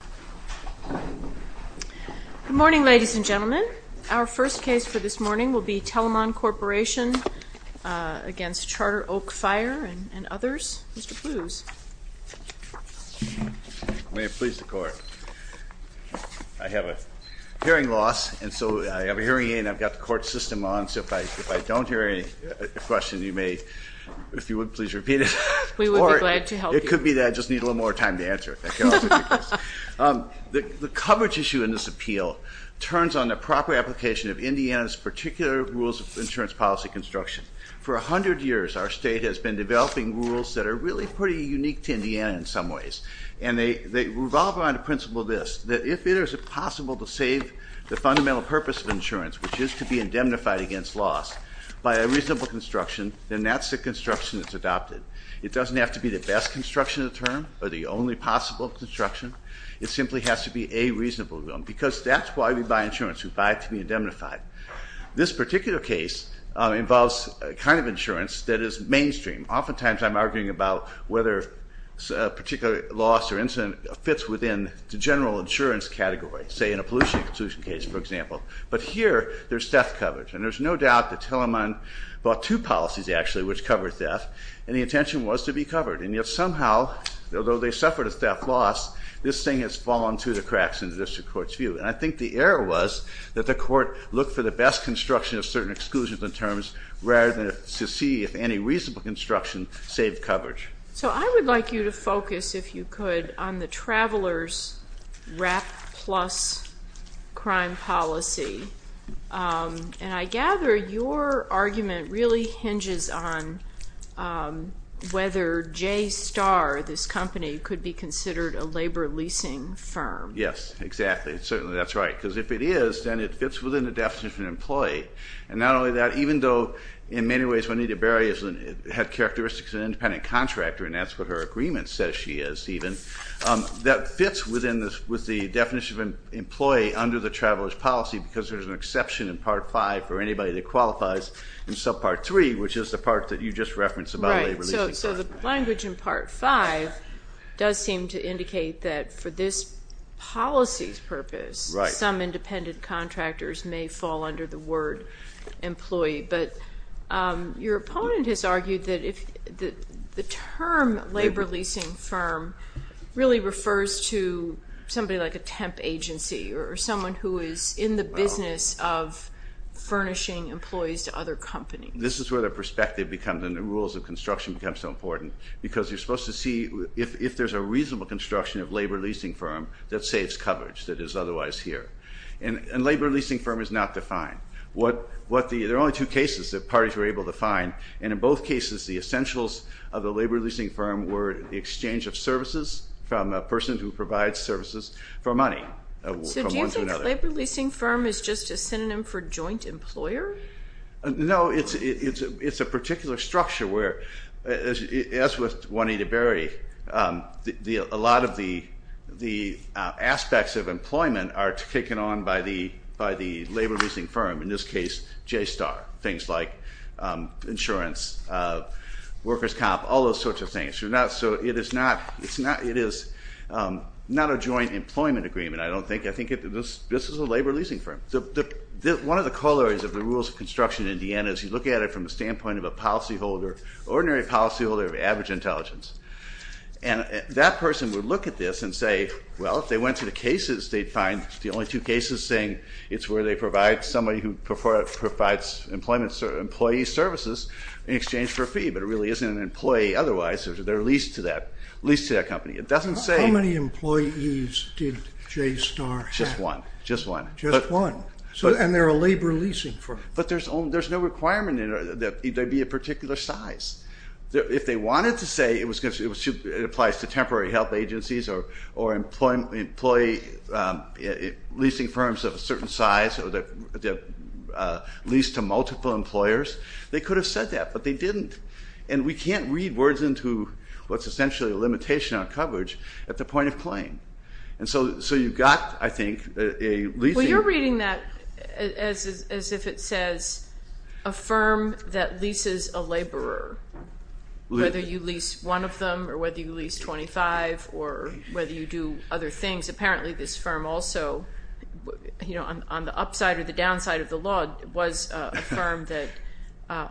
Good morning, ladies and gentlemen. Our first case for this morning will be Telamon Corporation v. Charter Oak Fire and others. Mr. Plews. May it please the court. I have a hearing loss and so I have a hearing aid and I've got the court system on so if I don't hear any questions you may, if you would please repeat it. We would be glad to help you. It could be that I just need a little more time to answer it. The coverage issue in this appeal turns on the proper application of Indiana's particular rules of insurance policy construction. For a hundred years our state has been developing rules that are really pretty unique to Indiana in some ways. And they revolve around the principle of this, that if it is possible to save the fundamental purpose of insurance, which is to be indemnified against loss, by a reasonable construction, then that's the construction that's adopted. It doesn't have to be the best construction of the term or the only possible construction. It simply has to be a reasonable one because that's why we buy insurance, we buy it to be indemnified. This particular case involves a kind of insurance that is mainstream. Oftentimes I'm arguing about whether a particular loss or incident fits within the general insurance category, say in a pollution exclusion case for example. But here there's theft coverage. And there's no doubt that Tilleman bought two policies actually which covered theft. And the intention was to be covered. And yet somehow, although they suffered a theft loss, this thing has fallen through the cracks in the district court's view. And I think the error was that the court looked for the best construction of certain exclusions and terms rather than to see if any reasonable construction saved coverage. So I would like you to focus, if you could, on the Travelers RAP plus crime policy. And I gather your argument really hinges on whether JSTAR, this company, could be considered a labor leasing firm. Yes, exactly. Certainly that's right. Because if it is, then it fits within the definition of an employee. And not only that, even though in many ways Juanita Berry had characteristics of an independent contractor, and that's what her agreement says she is even, that fits within the definition of an employee under the Travelers policy because there's an exception in Part 5 for anybody that qualifies in subpart 3, which is the part that you just referenced about a labor leasing firm. So the language in Part 5 does seem to indicate that for this policy's purpose, some independent contractors may fall under the word employee. But your opponent has argued that the term labor leasing firm really refers to somebody like a temp agency or someone who is in the business of furnishing employees to other companies. This is where the perspective becomes and the rules of construction become so important because you're supposed to see if there's a reasonable construction of labor leasing firm that saves coverage that is otherwise here. And labor leasing firm is not defined. There are only two cases that parties were able to find. And in both cases, the essentials of the labor leasing firm were the exchange of services from a person who provides services for money. So do you think labor leasing firm is just a synonym for joint employer? No, it's a particular structure where, as with Juanita Berry, a lot of the aspects of employment are taken on by the labor leasing firm, in this case, JSTAR, things like insurance, workers' comp, all those sorts of things. So it is not a joint employment agreement, I don't think. I think this is a labor leasing firm. One of the corollaries of the rules of construction in Indiana is you look at it from the standpoint of a policyholder, ordinary policyholder of average intelligence. And that person would look at this and say, well, if they went to the cases, they'd find the only two cases saying it's where they provide somebody who provides employee services in exchange for a fee. But it really isn't an employee otherwise. They're leased to that company. How many employees did JSTAR have? Just one, just one. Just one. And they're a labor leasing firm. But there's no requirement that they be a particular size. If they wanted to say it applies to temporary health agencies or employee leasing firms of a certain size or they're leased to multiple employers, they could have said that, but they didn't. And we can't read words into what's essentially a limitation on coverage at the point of claim. And so you've got, I think, a leasing. Well, you're reading that as if it says a firm that leases a laborer, whether you lease one of them or whether you lease 25 or whether you do other things. Apparently this firm also, you know, on the upside or the downside of the law, was a firm that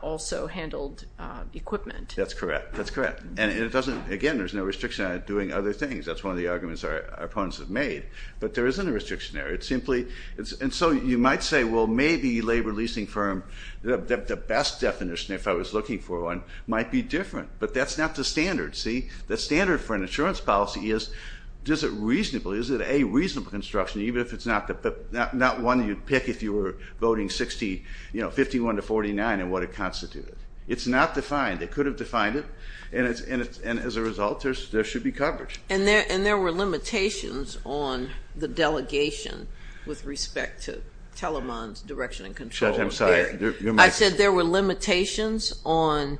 also handled equipment. That's correct. That's correct. And it doesn't, again, there's no restriction on it doing other things. That's one of the arguments our opponents have made. But there isn't a restriction there. It's simply, and so you might say, well, maybe a labor leasing firm, the best definition if I was looking for one, might be different, but that's not the standard, see? The standard for an insurance policy is, is it reasonable? Is it a reasonable construction, even if it's not one you'd pick if you were voting 51 to 49 and what it constituted? It's not defined. They could have defined it, and as a result, there should be coverage. And there were limitations on the delegation with respect to Telemann's direction and control. Judge, I'm sorry. I said there were limitations on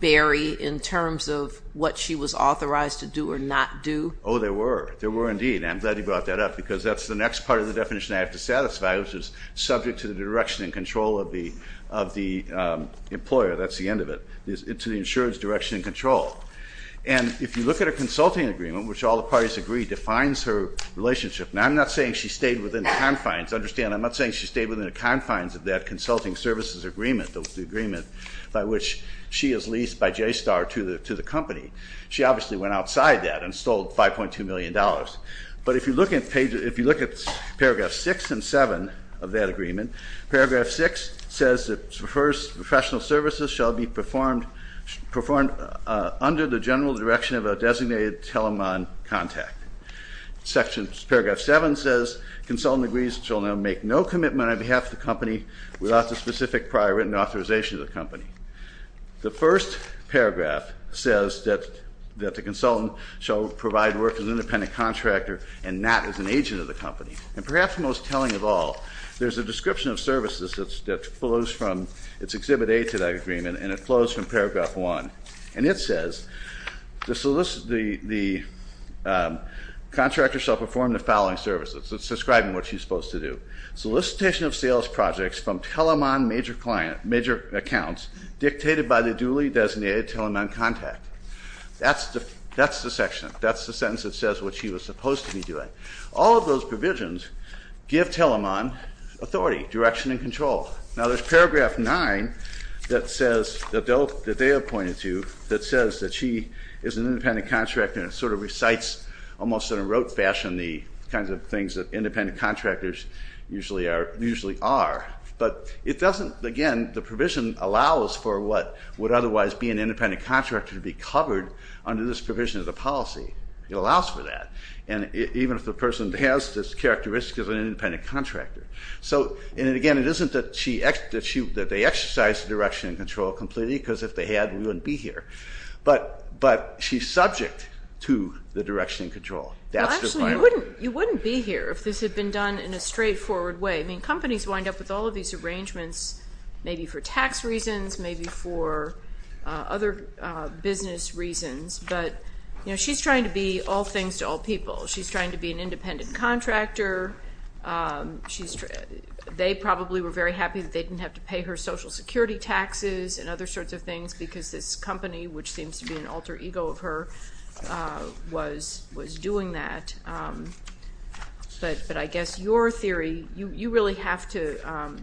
Barry in terms of what she was authorized to do or not do. Oh, there were. There were indeed, and I'm glad you brought that up because that's the next part of the definition I have to satisfy, which is subject to the direction and control of the employer. That's the end of it. It's an insurance direction and control. And if you look at a consulting agreement, which all the parties agree defines her relationship. Now, I'm not saying she stayed within the confines. Understand, I'm not saying she stayed within the confines of that consulting services agreement, the agreement by which she is leased by JSTAR to the company. She obviously went outside that and stole $5.2 million. But if you look at paragraph 6 and 7 of that agreement, paragraph 6 says, the first professional services shall be performed under the general direction of a designated Telemann contact. Paragraph 7 says, consultant agrees shall now make no commitment on behalf of the company without the specific prior written authorization of the company. The first paragraph says that the consultant shall provide work as an independent contractor and not as an agent of the company. And perhaps most telling of all, there's a description of services that flows from its Exhibit A to that agreement, and it flows from paragraph 1. And it says, the contractor shall perform the following services. It's describing what she's supposed to do. Solicitation of sales projects from Telemann major accounts dictated by the duly designated Telemann contact. That's the section. All of those provisions give Telemann authority, direction, and control. Now, there's paragraph 9 that says, that they have pointed to, that says that she is an independent contractor and sort of recites almost in a rote fashion the kinds of things that independent contractors usually are. But it doesn't, again, the provision allows for what would otherwise be an independent contractor to be covered under this provision of the policy. It allows for that. And even if the person has this characteristic of an independent contractor. So, and again, it isn't that she, that they exercise the direction and control completely, because if they had, we wouldn't be here. But she's subject to the direction and control. Well, actually, you wouldn't be here if this had been done in a straightforward way. I mean, companies wind up with all of these arrangements, maybe for tax reasons, maybe for other business reasons. But, you know, she's trying to be all things to all people. She's trying to be an independent contractor. They probably were very happy that they didn't have to pay her social security taxes and other sorts of things because this company, which seems to be an alter ego of her, was doing that. But I guess your theory, you really have to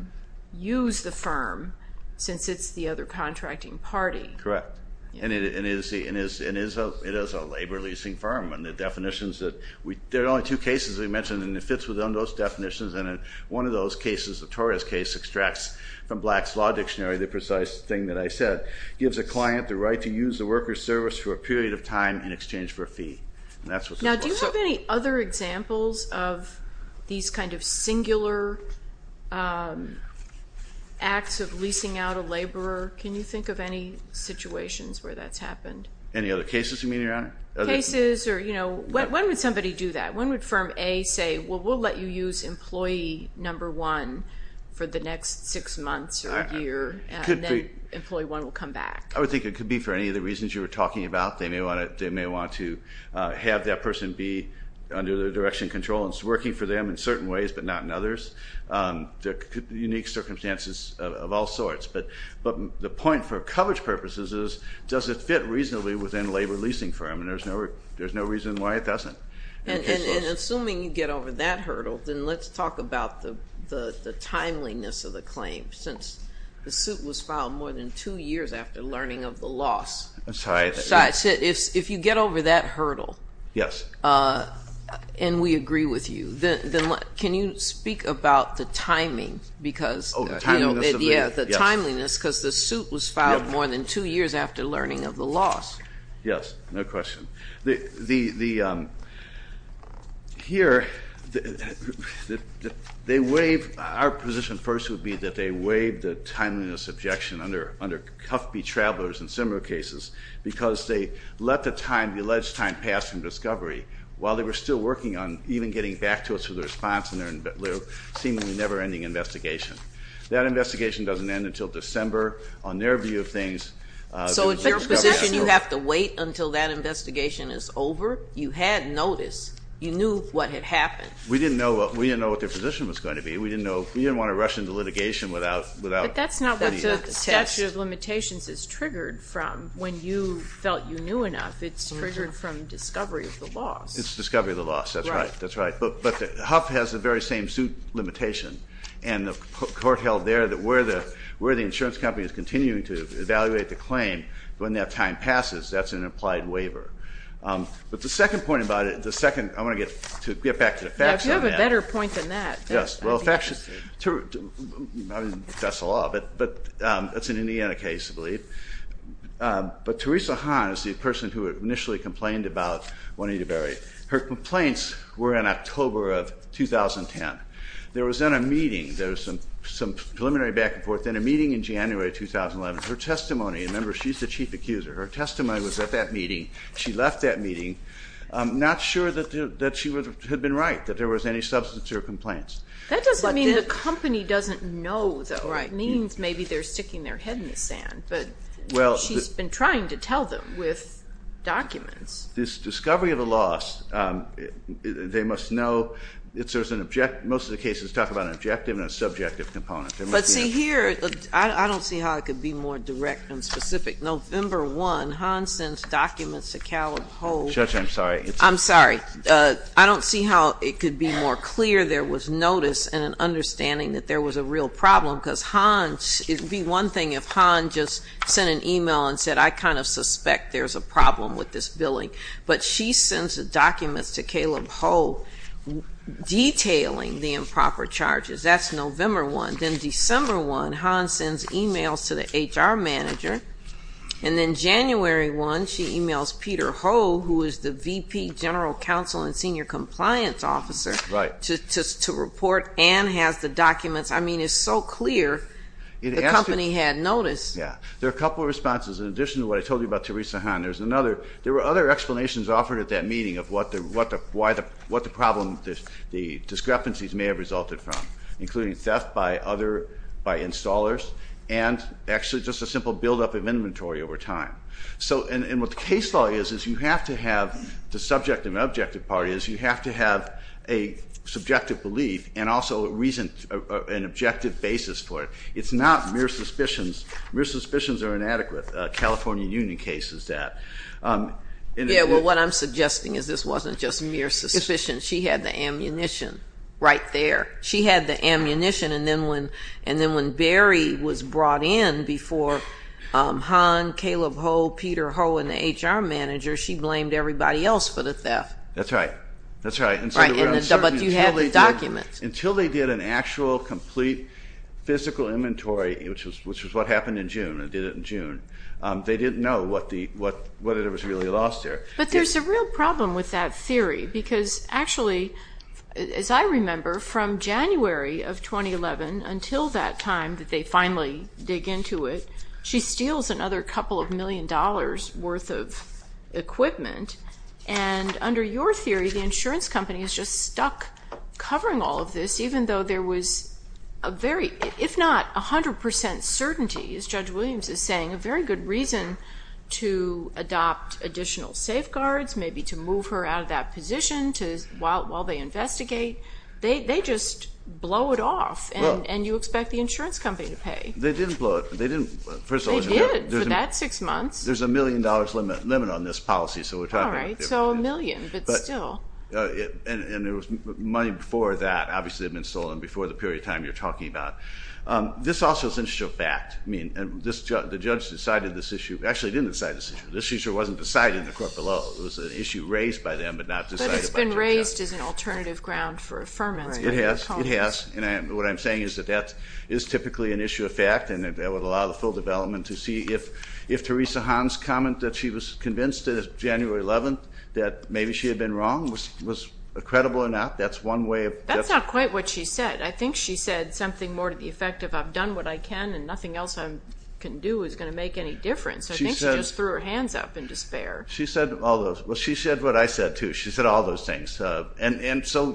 use the firm since it's the other contracting party. Correct. And it is a labor leasing firm. And the definitions that we, there are only two cases we mentioned, and it fits within those definitions. And one of those cases, the Torres case, extracts from Black's Law Dictionary, the precise thing that I said, gives a client the right to use the worker's service for a period of time in exchange for a fee. Now, do you have any other examples of these kind of singular acts of leasing out a laborer? Can you think of any situations where that's happened? Any other cases you mean, Your Honor? Cases or, you know, when would somebody do that? When would firm A say, well, we'll let you use employee number one for the next six months or a year, and then employee one will come back? I would think it could be for any of the reasons you were talking about. They may want to have that person be under their direction control and working for them in certain ways but not in others. There could be unique circumstances of all sorts. But the point for coverage purposes is, does it fit reasonably within a labor leasing firm? And there's no reason why it doesn't. And assuming you get over that hurdle, then let's talk about the timeliness of the claim. Since the suit was filed more than two years after learning of the loss. I'm sorry. If you get over that hurdle, and we agree with you, then can you speak about the timing? Oh, the timeliness of the? Yeah, the timeliness, because the suit was filed more than two years after learning of the loss. Yes, no question. The, here, they waive, our position first would be that they waive the timeliness objection under Cuffbee Travelers and similar cases because they let the time, the alleged time pass from discovery while they were still working on even getting back to us with a response in their seemingly never-ending investigation. That investigation doesn't end until December. On their view of things. So in your position, you have to wait until that investigation is over? You had notice. You knew what had happened. We didn't know what their position was going to be. We didn't want to rush into litigation without. But that's not what the statute of limitations is triggered from. When you felt you knew enough, it's triggered from discovery of the loss. It's discovery of the loss. That's right. But Huff has the very same suit limitation. And the court held there that where the insurance company is continuing to evaluate the claim, when that time passes, that's an implied waiver. But the second point about it, the second, I want to get back to the facts on that. You have a better point than that. Yes. Well, facts, that's the law. But that's an Indiana case, I believe. But Teresa Hahn is the person who initially complained about Juanita Berry. Her complaints were in October of 2010. There was then a meeting. There was some preliminary back and forth. Then a meeting in January of 2011. Her testimony, remember, she's the chief accuser. Her testimony was at that meeting. She left that meeting not sure that she had been right, that there was any substance to her complaints. That doesn't mean the company doesn't know, though. It means maybe they're sticking their head in the sand. But she's been trying to tell them with documents. This discovery of a loss, they must know it serves an objective. Most of the cases talk about an objective and a subjective component. But, see, here, I don't see how it could be more direct and specific. November 1, Hahn sends documents to Caleb Holt. Judge, I'm sorry. I'm sorry. I don't see how it could be more clear there was notice and an understanding that there was a real problem because Hahn, it would be one thing if Hahn just sent an e-mail and said, I kind of suspect there's a problem with this billing. But she sends the documents to Caleb Holt detailing the improper charges. That's November 1. Then December 1, Hahn sends e-mails to the HR manager. And then January 1, she e-mails Peter Holt, who is the VP general counsel and senior compliance officer, to report and has the documents. I mean, it's so clear the company had notice. Yeah. There are a couple of responses. In addition to what I told you about Theresa Hahn, there's another. There were other explanations offered at that meeting of what the problem, the discrepancies may have resulted from, including theft by installers and actually just a simple buildup of inventory over time. And what the case law is is you have to have the subjective and objective part is you have to have a subjective belief and also an objective basis for it. It's not mere suspicions. Mere suspicions are inadequate. A California union case is that. Yeah, well, what I'm suggesting is this wasn't just mere suspicions. She had the ammunition right there. She had the ammunition. And then when Barry was brought in before Hahn, Caleb Holt, Peter Holt, and the HR manager, she blamed everybody else for the theft. That's right. That's right. But you had the documents. Until they did an actual, complete, physical inventory, which was what happened in June, they did it in June, they didn't know what it was really lost there. But there's a real problem with that theory because actually, as I remember, from January of 2011 until that time that they finally dig into it, she steals another couple of million dollars' worth of equipment. And under your theory, the insurance company is just stuck covering all of this, even though there was a very, if not 100% certainty, as Judge Williams is saying, a very good reason to adopt additional safeguards, maybe to move her out of that position while they investigate. They just blow it off, and you expect the insurance company to pay. They didn't blow it. They didn't. They did for that six months. There's a million dollars limit on this policy. All right. So a million, but still. And there was money before that, obviously, that had been stolen before the period of time you're talking about. This also is an issue of fact. The judge decided this issue. Actually, he didn't decide this issue. This issue wasn't decided in the court below. It was an issue raised by them but not decided by the judge. But it's been raised as an alternative ground for affirmance. It has. It has. And what I'm saying is that that is typically an issue of fact, and that would allow the full development to see if Theresa Hahn's comment that she was convinced January 11th, that maybe she had been wrong, was credible or not. That's one way of. That's not quite what she said. I think she said something more to the effect of, I've done what I can and nothing else I can do is going to make any difference. I think she just threw her hands up in despair. She said all those. Well, she said what I said, too. She said all those things. And so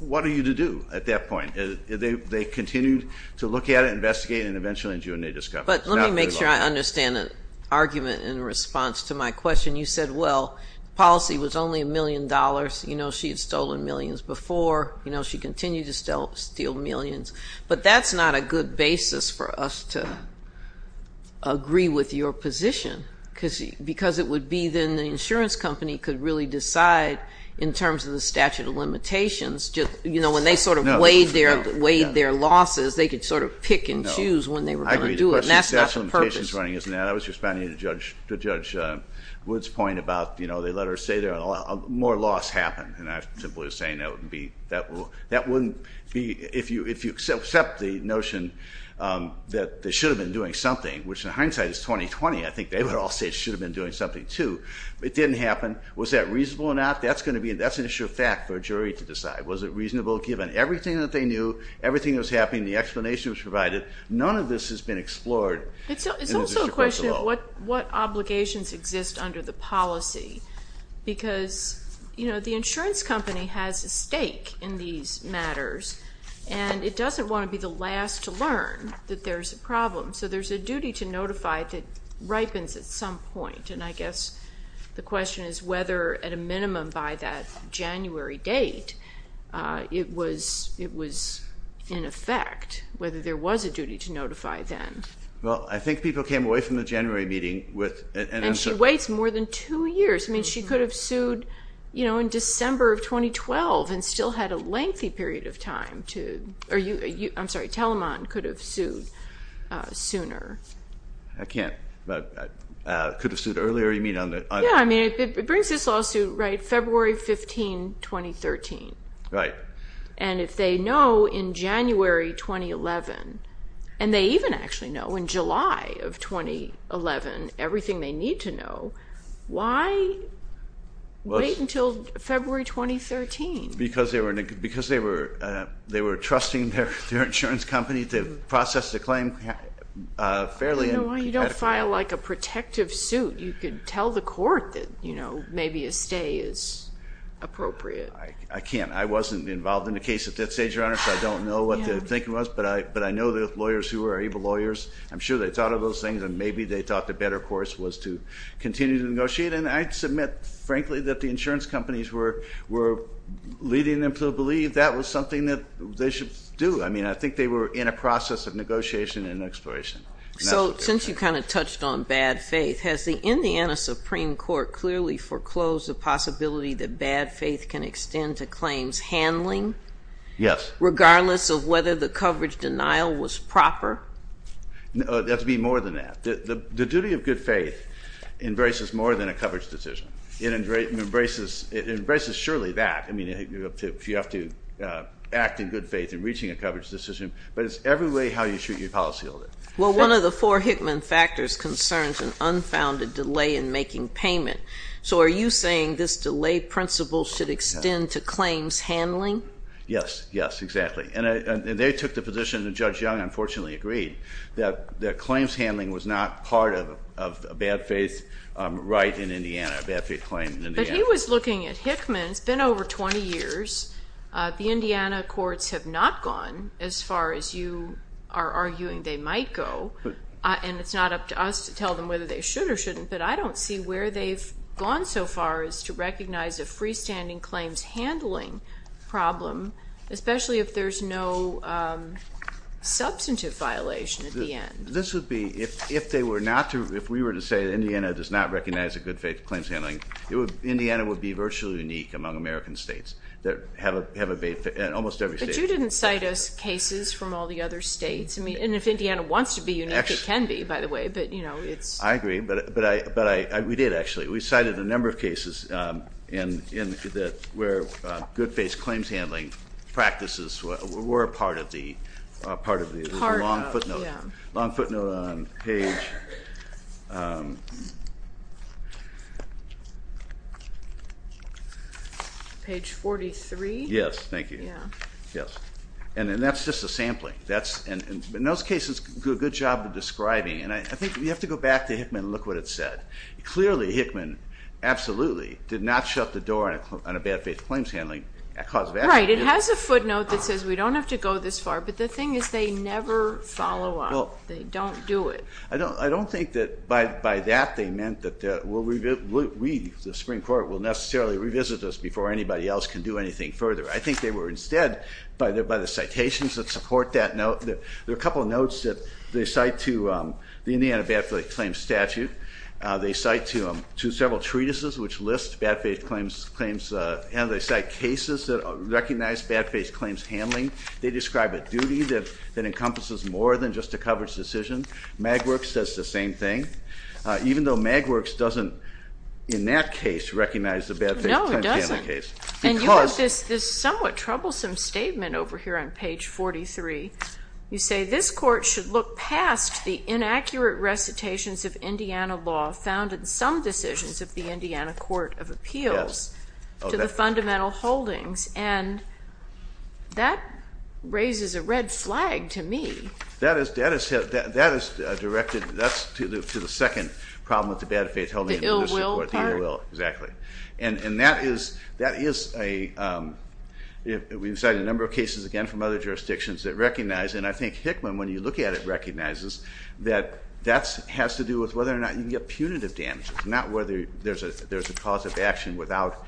what are you to do at that point? They continued to look at it, investigate it, and eventually in June they discovered it. But let me make sure I understand the argument in response to my question. You said, well, policy was only a million dollars. You know, she had stolen millions before. You know, she continued to steal millions. But that's not a good basis for us to agree with your position because it would be then the insurance company could really decide in terms of the statute of limitations. They could weigh their losses. They could sort of pick and choose when they were going to do it. And that's not the purpose. I was responding to Judge Wood's point about, you know, they let her stay there and more loss happened. And I'm simply saying that wouldn't be, if you accept the notion that they should have been doing something, which in hindsight is 2020, I think they would all say they should have been doing something, too. It didn't happen. Was that reasonable or not? That's an issue of fact for a jury to decide. Was it reasonable given everything that they knew, everything that was happening, the explanation that was provided? None of this has been explored. It's also a question of what obligations exist under the policy because, you know, the insurance company has a stake in these matters. And it doesn't want to be the last to learn that there's a problem. So there's a duty to notify it that ripens at some point. And I guess the question is whether, at a minimum, by that January date, it was in effect, whether there was a duty to notify then. Well, I think people came away from the January meeting with an answer. And she waits more than two years. I mean, she could have sued, you know, in December of 2012 and still had a lengthy period of time to, or you, I'm sorry, Telemann could have sued sooner. I can't. Could have sued earlier, you mean? Yeah, I mean, it brings this lawsuit, right, February 15, 2013. Right. And if they know in January 2011, and they even actually know in July of 2011 everything they need to know, why wait until February 2013? Because they were trusting their insurance company to process the claim fairly and adequately. You know, you don't file like a protective suit. You can tell the court that, you know, maybe a stay is appropriate. I can't. I wasn't involved in the case at that stage, Your Honor, so I don't know what the thinking was. But I know there are lawyers who are able lawyers. I'm sure they thought of those things, and maybe they thought the better course was to continue to negotiate. And I submit, frankly, that the insurance companies were leading them to believe that was something that they should do. I mean, I think they were in a process of negotiation and exploration. So since you kind of touched on bad faith, has the Indiana Supreme Court clearly foreclosed the possibility that bad faith can extend to claims handling? Yes. Regardless of whether the coverage denial was proper? That would be more than that. The duty of good faith embraces more than a coverage decision. It embraces surely that. You have to act in good faith in reaching a coverage decision. But it's every way how you treat your policyholder. Well, one of the four Hickman factors concerns an unfounded delay in making payment. So are you saying this delay principle should extend to claims handling? Yes. Yes, exactly. And they took the position, and Judge Young unfortunately agreed, that claims handling was not part of a bad faith right in Indiana, a bad faith claim in Indiana. But he was looking at Hickman. It's been over 20 years. The Indiana courts have not gone as far as you are arguing they might go. And it's not up to us to tell them whether they should or shouldn't, but I don't see where they've gone so far as to recognize a freestanding claims handling problem, especially if there's no substantive violation at the end. This would be, if they were not to, if we were to say that Indiana does not recognize a good faith claims handling, Indiana would be virtually unique among American states that have a bad faith in almost every state. But you didn't cite us cases from all the other states. And if Indiana wants to be unique, it can be, by the way. I agree. But we did, actually. We cited a number of cases where good faith claims handling practices were a part of the long footnote. Long footnote on page 43. Yes, thank you. And that's just a sampling. In those cases, good job of describing. And I think you have to go back to Hickman and look what it said. Clearly, Hickman absolutely did not shut the door on a bad faith claims handling cause of action. Right. It has a footnote that says we don't have to go this far. But the thing is they never follow up. They don't do it. I don't think that by that they meant that we, the Supreme Court, will necessarily revisit this before anybody else can do anything further. I think they were instead, by the citations that support that note, there are a couple of notes that they cite to the Indiana bad faith claims statute. They cite to several treatises which list bad faith claims. And they cite cases that recognize bad faith claims handling. They describe a duty that encompasses more than just a coverage decision. Magwerks does the same thing. Even though Magwerks doesn't, in that case, recognize the bad faith claims handling case. No, it doesn't. And you have this somewhat troublesome statement over here on page 43. You say this court should look past the inaccurate recitations of Indiana law found in some decisions of the Indiana Court of Appeals to the fundamental holdings. And that raises a red flag to me. That is directed to the second problem with the bad faith. The ill will part? The ill will, exactly. And that is a, we've cited a number of cases, again, from other jurisdictions that recognize. And I think Hickman, when you look at it, recognizes that that has to do with whether or not you can get punitive damages, not whether there's a cause of action without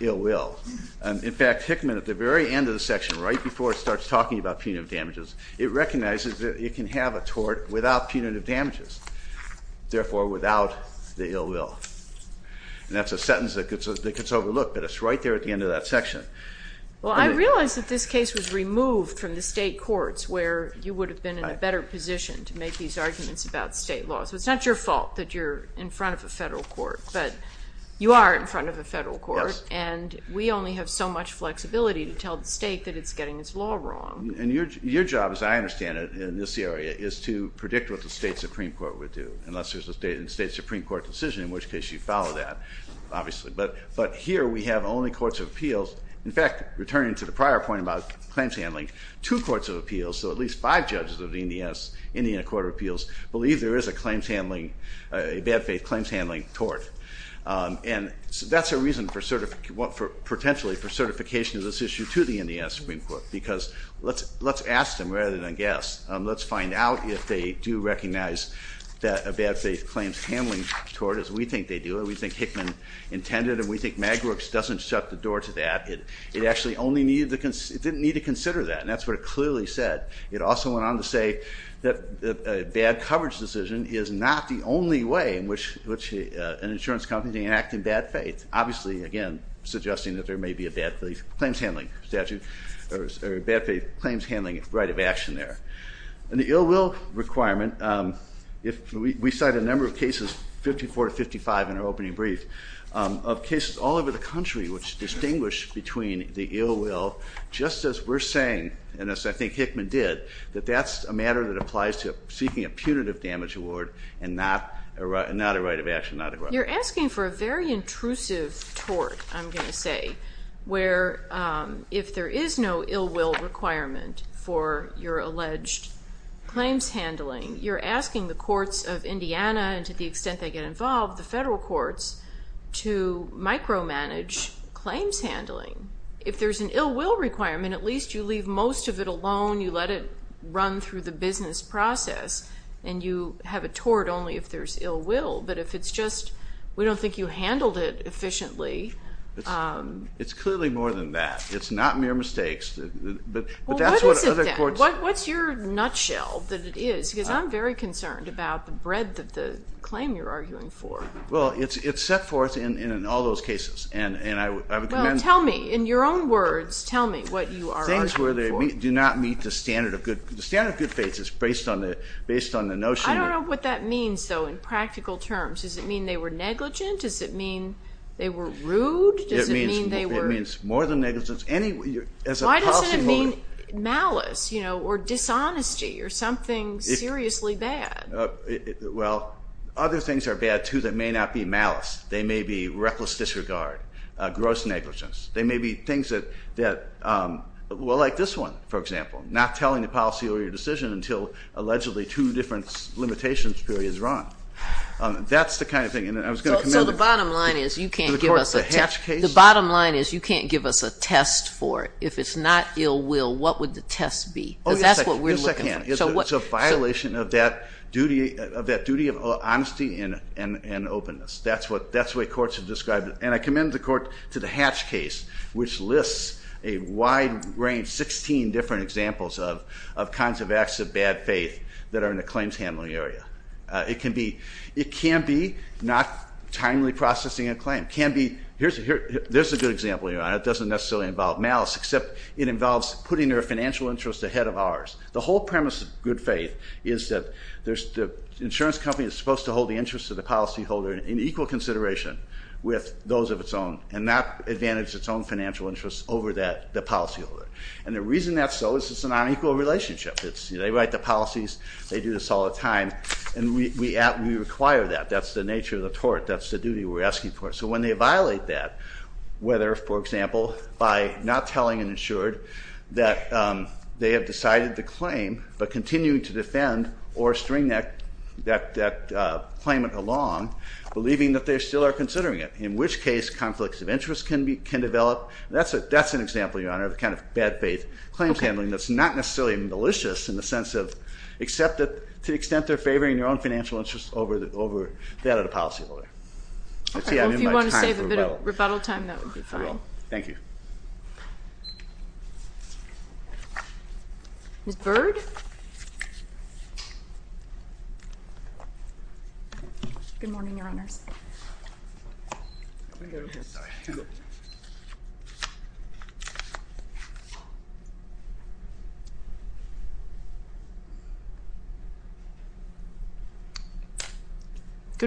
ill will. In fact, Hickman, at the very end of the section, right before it starts talking about punitive damages, it recognizes that it can have a tort without punitive damages, therefore without the ill will. And that's a sentence that gets overlooked, but it's right there at the end of that section. Well, I realize that this case was removed from the state courts where you would have been in a better position to make these arguments about state law. So it's not your fault that you're in front of a federal court, but you are in front of a federal court. And we only have so much flexibility to tell the state that it's getting its law wrong. And your job, as I understand it, in this area is to predict what the state Supreme Court would do, unless there's a state Supreme Court decision, in which case you follow that, obviously. But here we have only courts of appeals. In fact, returning to the prior point about claims handling, two courts of appeals, so at least five judges of the Indiana Court of Appeals, believe there is a bad faith claims handling tort. And that's a reason for potentially for certification of this issue to the Indiana Supreme Court, because let's ask them rather than guess. Let's find out if they do recognize that a bad faith claims handling tort, as we think they do, or we think Hickman intended, and we think Magwerks doesn't shut the door to that. It actually only needed to, it didn't need to consider that. And that's what it clearly said. It also went on to say that a bad coverage decision is not the only way in which an insurance company can act in bad faith. Obviously, again, suggesting that there may be a bad faith claims handling statute, or a bad faith claims handling right of action there. And the ill will requirement, if we cite a number of cases, 54 to 55 in our opening brief, of cases all over the country, which distinguish between the ill will, just as we're saying, and as I think Hickman did, that that's a matter that applies to seeking a punitive damage award, and not a right of action. You're asking for a very intrusive tort, I'm going to say, where if there is no ill will requirement for your alleged claims handling, you're asking the courts of Indiana, and to the extent they get involved, the federal courts, to micromanage claims handling. If there's an ill will requirement, at least you leave most of it alone, you let it run through the business process, and you have a tort only if there's ill will. But if it's just, we don't think you handled it efficiently. It's clearly more than that. It's not mere mistakes. Well, what is it then? What's your nutshell that it is? Because I'm very concerned about the breadth of the claim you're arguing for. Well, it's set forth in all those cases. Well, tell me. In your own words, tell me what you are arguing for. Things where they do not meet the standard of good faiths. I don't know what that means, though, in practical terms. Does it mean they were negligent? Does it mean they were rude? It means more than negligence. Why doesn't it mean malice or dishonesty or something seriously bad? Well, other things are bad, too, that may not be malice. They may be reckless disregard, gross negligence. They may be things that, well, like this one, for example, not telling the policy or your decision until allegedly two different limitations periods are on. That's the kind of thing. And I was going to comment. So the bottom line is you can't give us a test. The bottom line is you can't give us a test for it. If it's not ill will, what would the test be? Because that's what we're looking for. It's a violation of that duty of honesty and openness. That's the way courts have described it. And I commend the court to the Hatch case, which lists a wide range, 16 different examples, of kinds of acts of bad faith that are in the claims handling area. It can be not timely processing a claim. Here's a good example, Your Honor. It doesn't necessarily involve malice, except it involves putting their financial interest ahead of ours. The whole premise of good faith is that the insurance company is supposed to hold the interest of the policyholder in equal consideration with those of its own and not advantage its own financial interests over the policyholder. And the reason that's so is it's a non-equal relationship. They write the policies. They do this all the time. And we require that. That's the nature of the tort. That's the duty we're asking for. So when they violate that, whether, for example, by not telling an insured that they have decided the claim but continuing to defend or string that claimant along, believing that they still are considering it, in which case conflicts of interest can develop. That's an example, Your Honor, of the kind of bad faith claims handling that's not necessarily malicious in the sense of except to the extent they're favoring their own financial interests over that of the policyholder. If you want to save a bit of rebuttal time, that would be fine. Thank you. Ms. Bird? Good morning, Your Honors. Good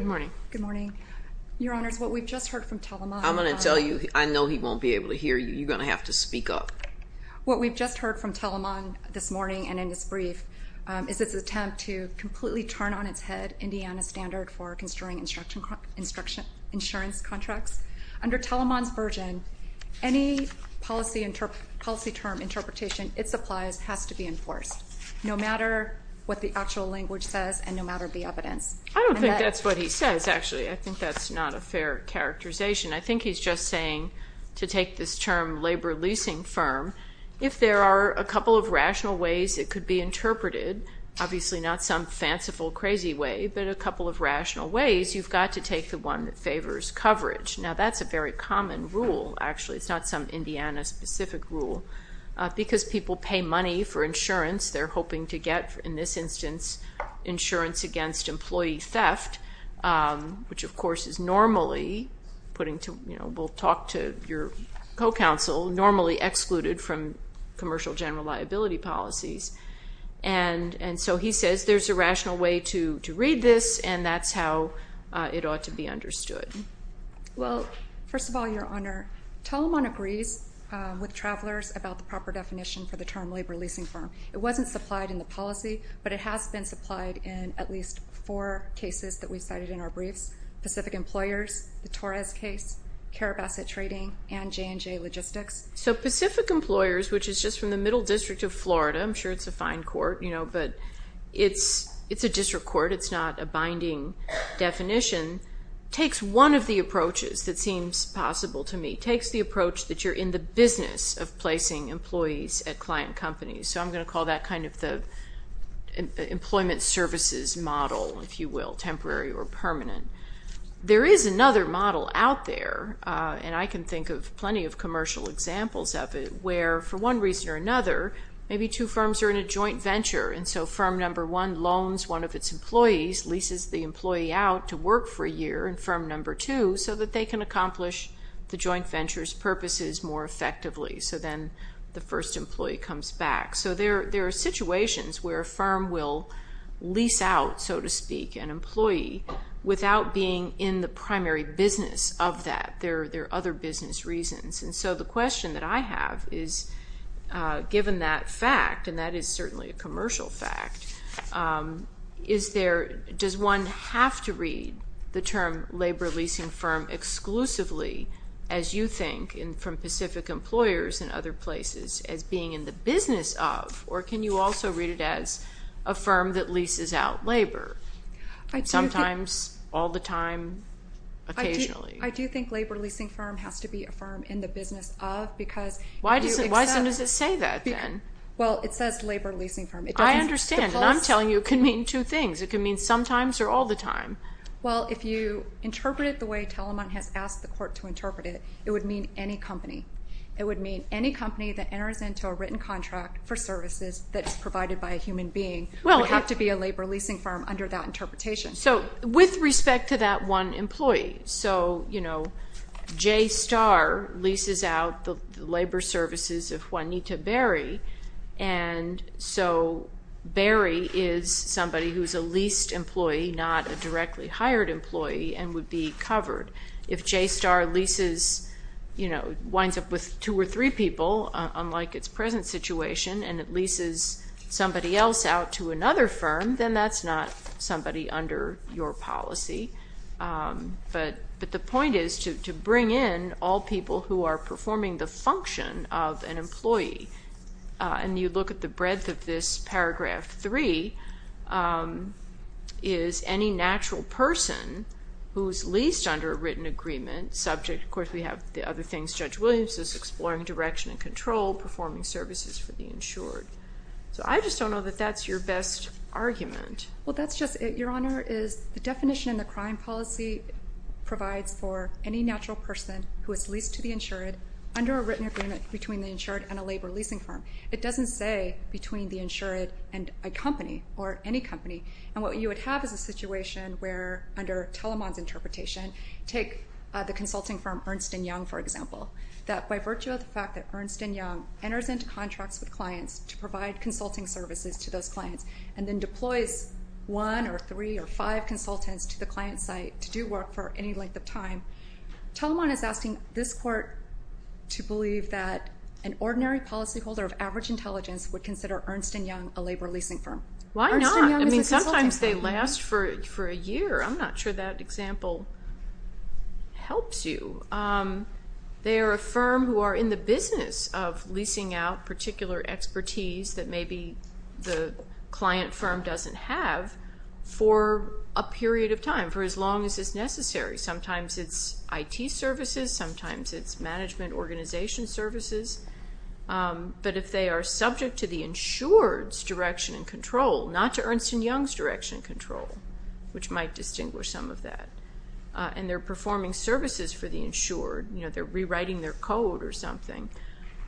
morning. Good morning. Your Honors, what we've just heard from Telemach. I'm going to tell you, I know he won't be able to hear you. You're going to have to speak up. What we've just heard from Telemach this morning and in this brief is his attempt to completely turn on its head Indiana's standard for construing insurance contracts. Under Telemach's version, any policy term interpretation it supplies has to be enforced, no matter what the actual language says and no matter the evidence. I don't think that's what he says, actually. I think that's not a fair characterization. I think he's just saying to take this term labor leasing firm, if there are a couple of rational ways it could be interpreted, obviously not some fanciful, crazy way, but a couple of rational ways, you've got to take the one that favors coverage. Now, that's a very common rule, actually. It's not some Indiana-specific rule. Because people pay money for insurance, they're hoping to get, in this instance, insurance against employee theft, which, of course, is normally, we'll talk to your co-counsel, normally excluded from commercial general liability policies. And so he says there's a rational way to read this, and that's how it ought to be understood. Well, first of all, Your Honor, Telemach agrees with travelers about the proper definition for the term labor leasing firm. It wasn't supplied in the policy, but it has been supplied in at least four cases that we've cited in our briefs, Pacific Employers, the Torres case, CARIB asset trading, and J&J Logistics. So Pacific Employers, which is just from the Middle District of Florida, I'm sure it's a fine court, but it's a district court, it's not a binding definition, takes one of the approaches that seems possible to me, takes the approach that you're in the business of placing employees at client companies. So I'm going to call that kind of the employment services model, if you will, temporary or permanent. There is another model out there, and I can think of plenty of commercial examples of it, where for one reason or another, maybe two firms are in a joint venture, and so firm number one loans one of its employees, leases the employee out to work for a year, and firm number two, so that they can accomplish the joint venture's purposes more effectively. So then the first employee comes back. So there are situations where a firm will lease out, so to speak, an employee, without being in the primary business of that. There are other business reasons. And so the question that I have is, given that fact, and that is certainly a commercial fact, is there, does one have to read the term labor leasing firm exclusively, as you think, and from Pacific employers and other places, as being in the business of, or can you also read it as a firm that leases out labor, sometimes, all the time, occasionally? I do think labor leasing firm has to be a firm in the business of because you accept. Why does it say that then? Well, it says labor leasing firm. I understand, and I'm telling you it can mean two things. It can mean sometimes or all the time. Well, if you interpret it the way Talamont has asked the court to interpret it, it would mean any company. It would mean any company that enters into a written contract for services that is provided by a human being. It would have to be a labor leasing firm under that interpretation. So with respect to that one employee, so, you know, JSTAR leases out the labor services of Juanita Berry, and so Berry is somebody who is a leased employee, not a directly hired employee, and would be covered. If JSTAR leases, you know, winds up with two or three people, unlike its present situation, and it leases somebody else out to another firm, then that's not somebody under your policy. But the point is to bring in all people who are performing the function of an employee, and you look at the breadth of this paragraph 3, is any natural person who is leased under a written agreement subject, of course we have the other things, Judge Williams is exploring direction and control, performing services for the insured. So I just don't know that that's your best argument. Well, that's just it, Your Honor, is the definition of the crime policy provides for any natural person who is leased to the insured under a written agreement between the insured and a labor leasing firm. It doesn't say between the insured and a company or any company, and what you would have is a situation where, under Telemann's interpretation, take the consulting firm Ernst & Young, for example, that by virtue of the fact that Ernst & Young enters into contracts with clients to provide consulting services to those clients and then deploys one or three or five consultants to the client site to do work for any length of time, Telemann is asking this court to believe that an ordinary policyholder of average intelligence would consider Ernst & Young a labor leasing firm. Why not? I mean, sometimes they last for a year. I'm not sure that example helps you. They are a firm who are in the business of leasing out particular expertise that maybe the client firm doesn't have for a period of time, for as long as is necessary. Sometimes it's IT services. Sometimes it's management organization services. But if they are subject to the insured's direction and control, not to Ernst & Young's direction and control, which might distinguish some of that, and they're performing services for the insured, they're rewriting their code or something,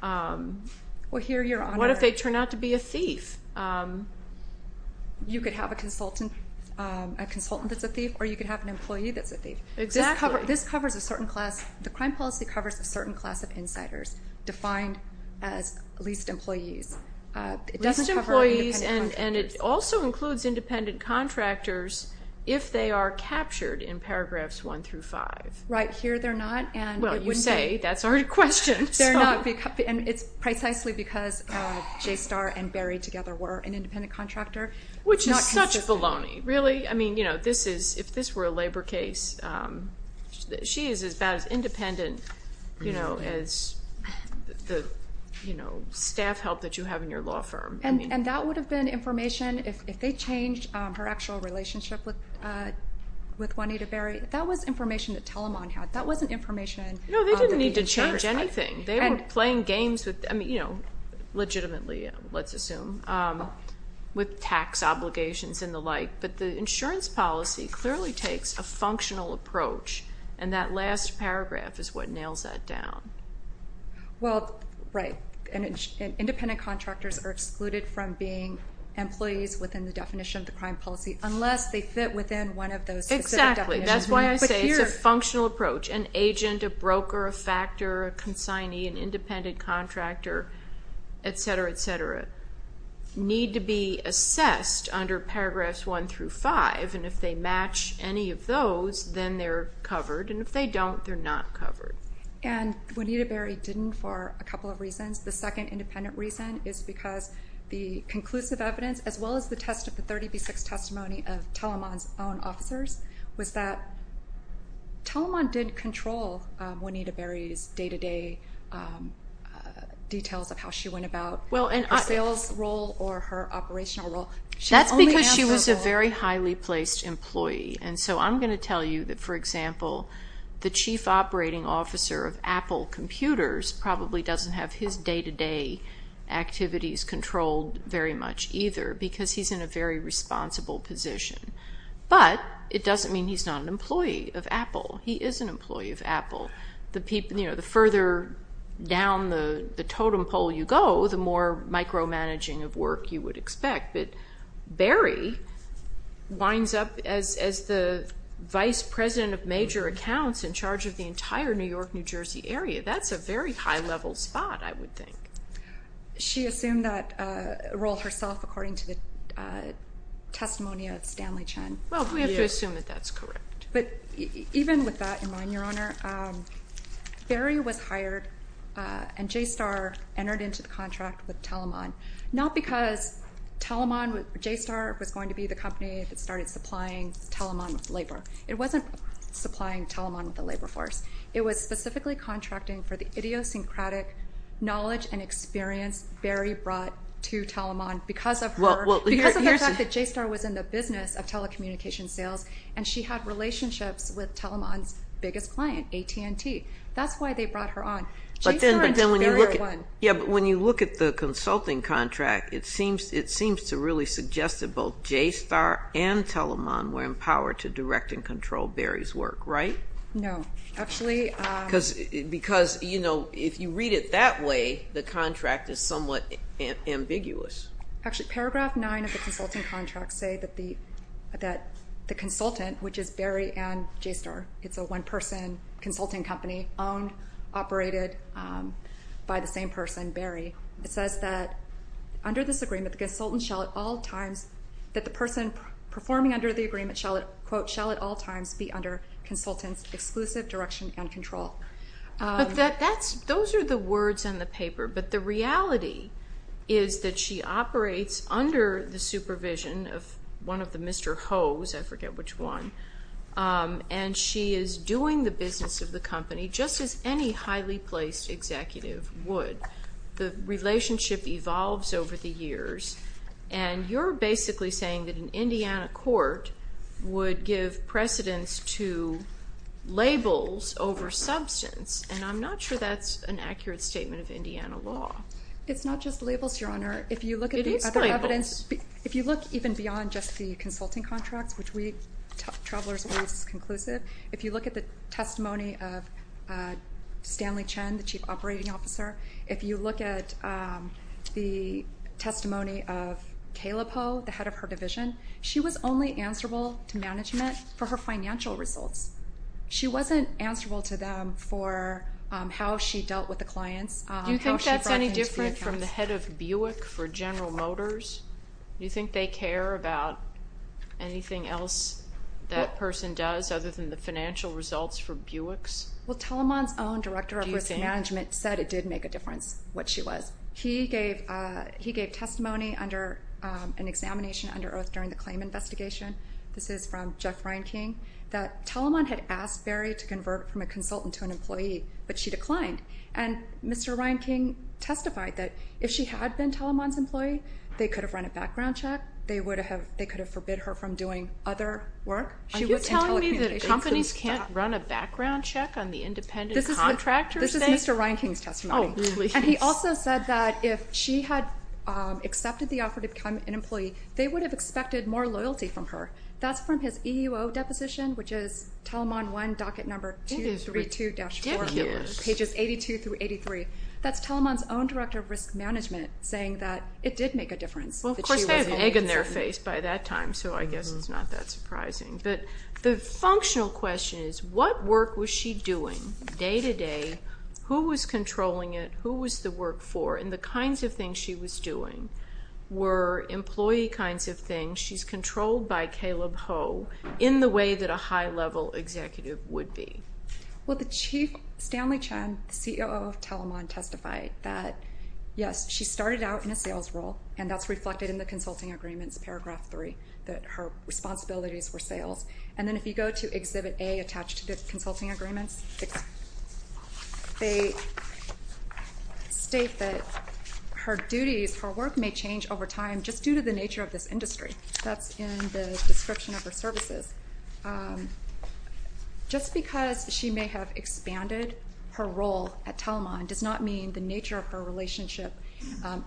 what if they turn out to be a thief? You could have a consultant that's a thief or you could have an employee that's a thief. This covers a certain class. The crime policy covers a certain class of insiders defined as leased employees. It doesn't cover independent contractors. And it also includes independent contractors if they are captured in paragraphs 1 through 5. Right. Here they're not. Well, you say. That's our question. They're not. And it's precisely because JSTAR and Berry together were an independent contractor. Which is such baloney. Really? I mean, if this were a labor case, she is about as independent as the staff help that you have in your law firm. And that would have been information if they changed her actual relationship with Juanita Berry. That was information that Telamon had. That wasn't information that the insurers had. No, they didn't need to change anything. They were playing games with, you know, legitimately, let's assume, with tax obligations and the like. But the insurance policy clearly takes a functional approach. And that last paragraph is what nails that down. Well, right. Independent contractors are excluded from being employees within the definition of the crime policy unless they fit within one of those specific definitions. Exactly. That's why I say it's a functional approach. An agent, a broker, a factor, a consignee, an independent contractor, etc., etc. need to be assessed under paragraphs 1 through 5. And if they match any of those, then they're covered. And if they don't, they're not covered. And Juanita Berry didn't for a couple of reasons. The second independent reason is because the conclusive evidence, as well as the 30B6 testimony of Telamon's own officers, was that Telamon did control Juanita Berry's day-to-day details of how she went about her sales role or her operational role. That's because she was a very highly placed employee. And so I'm going to tell you that, for example, the chief operating officer of Apple Computers probably doesn't have his day-to-day activities controlled very much either because he's in a very responsible position. But it doesn't mean he's not an employee of Apple. He is an employee of Apple. The further down the totem pole you go, the more micromanaging of work you would expect. But Berry winds up as the vice president of major accounts in charge of the entire New York, New Jersey area. That's a very high-level spot, I would think. She assumed that role herself according to the testimony of Stanley Chen. Well, we have to assume that that's correct. But even with that in mind, Your Honor, Berry was hired and JSTAR entered into the contract with Telamon, not because JSTAR was going to be the company that started supplying Telamon with labor. It wasn't supplying Telamon with a labor force. It was specifically contracting for the idiosyncratic knowledge and experience Berry brought to Telamon because of the fact that JSTAR was in the business of telecommunications sales, and she had relationships with Telamon's biggest client, AT&T. That's why they brought her on. JSTAR and Berry are one. Yeah, but when you look at the consulting contract, it seems to really suggest that both JSTAR and Telamon were empowered to direct and control Berry's work, right? No. Because, you know, if you read it that way, the contract is somewhat ambiguous. Actually, paragraph 9 of the consulting contract say that the consultant, which is Berry and JSTAR, it's a one-person consulting company owned, operated by the same person, Berry. It says that under this agreement, the consultant shall at all times, that the person performing under the agreement, quote, shall at all times be under consultant's exclusive direction and control. Those are the words in the paper, but the reality is that she operates under the supervision of one of the Mr. Ho's, I forget which one, and she is doing the business of the company just as any highly placed executive would. The relationship evolves over the years, and you're basically saying that an Indiana court would give precedence to labels over substance, and I'm not sure that's an accurate statement of Indiana law. It's not just labels, Your Honor. It is labels. But if you look even beyond just the consulting contracts, which Travelers Always is conclusive, if you look at the testimony of Stanley Chen, the chief operating officer, if you look at the testimony of Caleb Ho, the head of her division, she was only answerable to management for her financial results. She wasn't answerable to them for how she dealt with the clients. Do you think that's any different from the head of Buick for General Motors? Do you think they care about anything else that person does other than the financial results for Buicks? Well, Telamon's own director of risk management said it did make a difference what she was. He gave testimony under an examination under oath during the claim investigation. This is from Jeff Reinking, that Telamon had asked Berry to convert from a consultant to an employee, but she declined. And Mr. Reinking testified that if she had been Telamon's employee, they could have run a background check. They could have forbid her from doing other work. Are you telling me that companies can't run a background check on the independent contractors? This is Mr. Reinking's testimony. Oh, please. And he also said that if she had accepted the offer to become an employee, they would have expected more loyalty from her. That's from his EEO deposition, which is Telamon 1, docket number 232-4. It is ridiculous. Pages 82 through 83. That's Telamon's own director of risk management saying that it did make a difference. Well, of course, they had an egg in their face by that time, so I guess it's not that surprising. But the functional question is, what work was she doing day to day? Who was controlling it? Who was the work for? And the kinds of things she was doing were employee kinds of things. She's controlled by Caleb Ho in the way that a high-level executive would be. Well, the chief, Stanley Chen, CEO of Telamon, testified that, yes, she started out in a sales role, and that's reflected in the consulting agreements, paragraph 3, that her responsibilities were sales. And then if you go to Exhibit A attached to the consulting agreements, they state that her duties, her work may change over time just due to the nature of this industry. That's in the description of her services. Just because she may have expanded her role at Telamon does not mean the nature of her relationship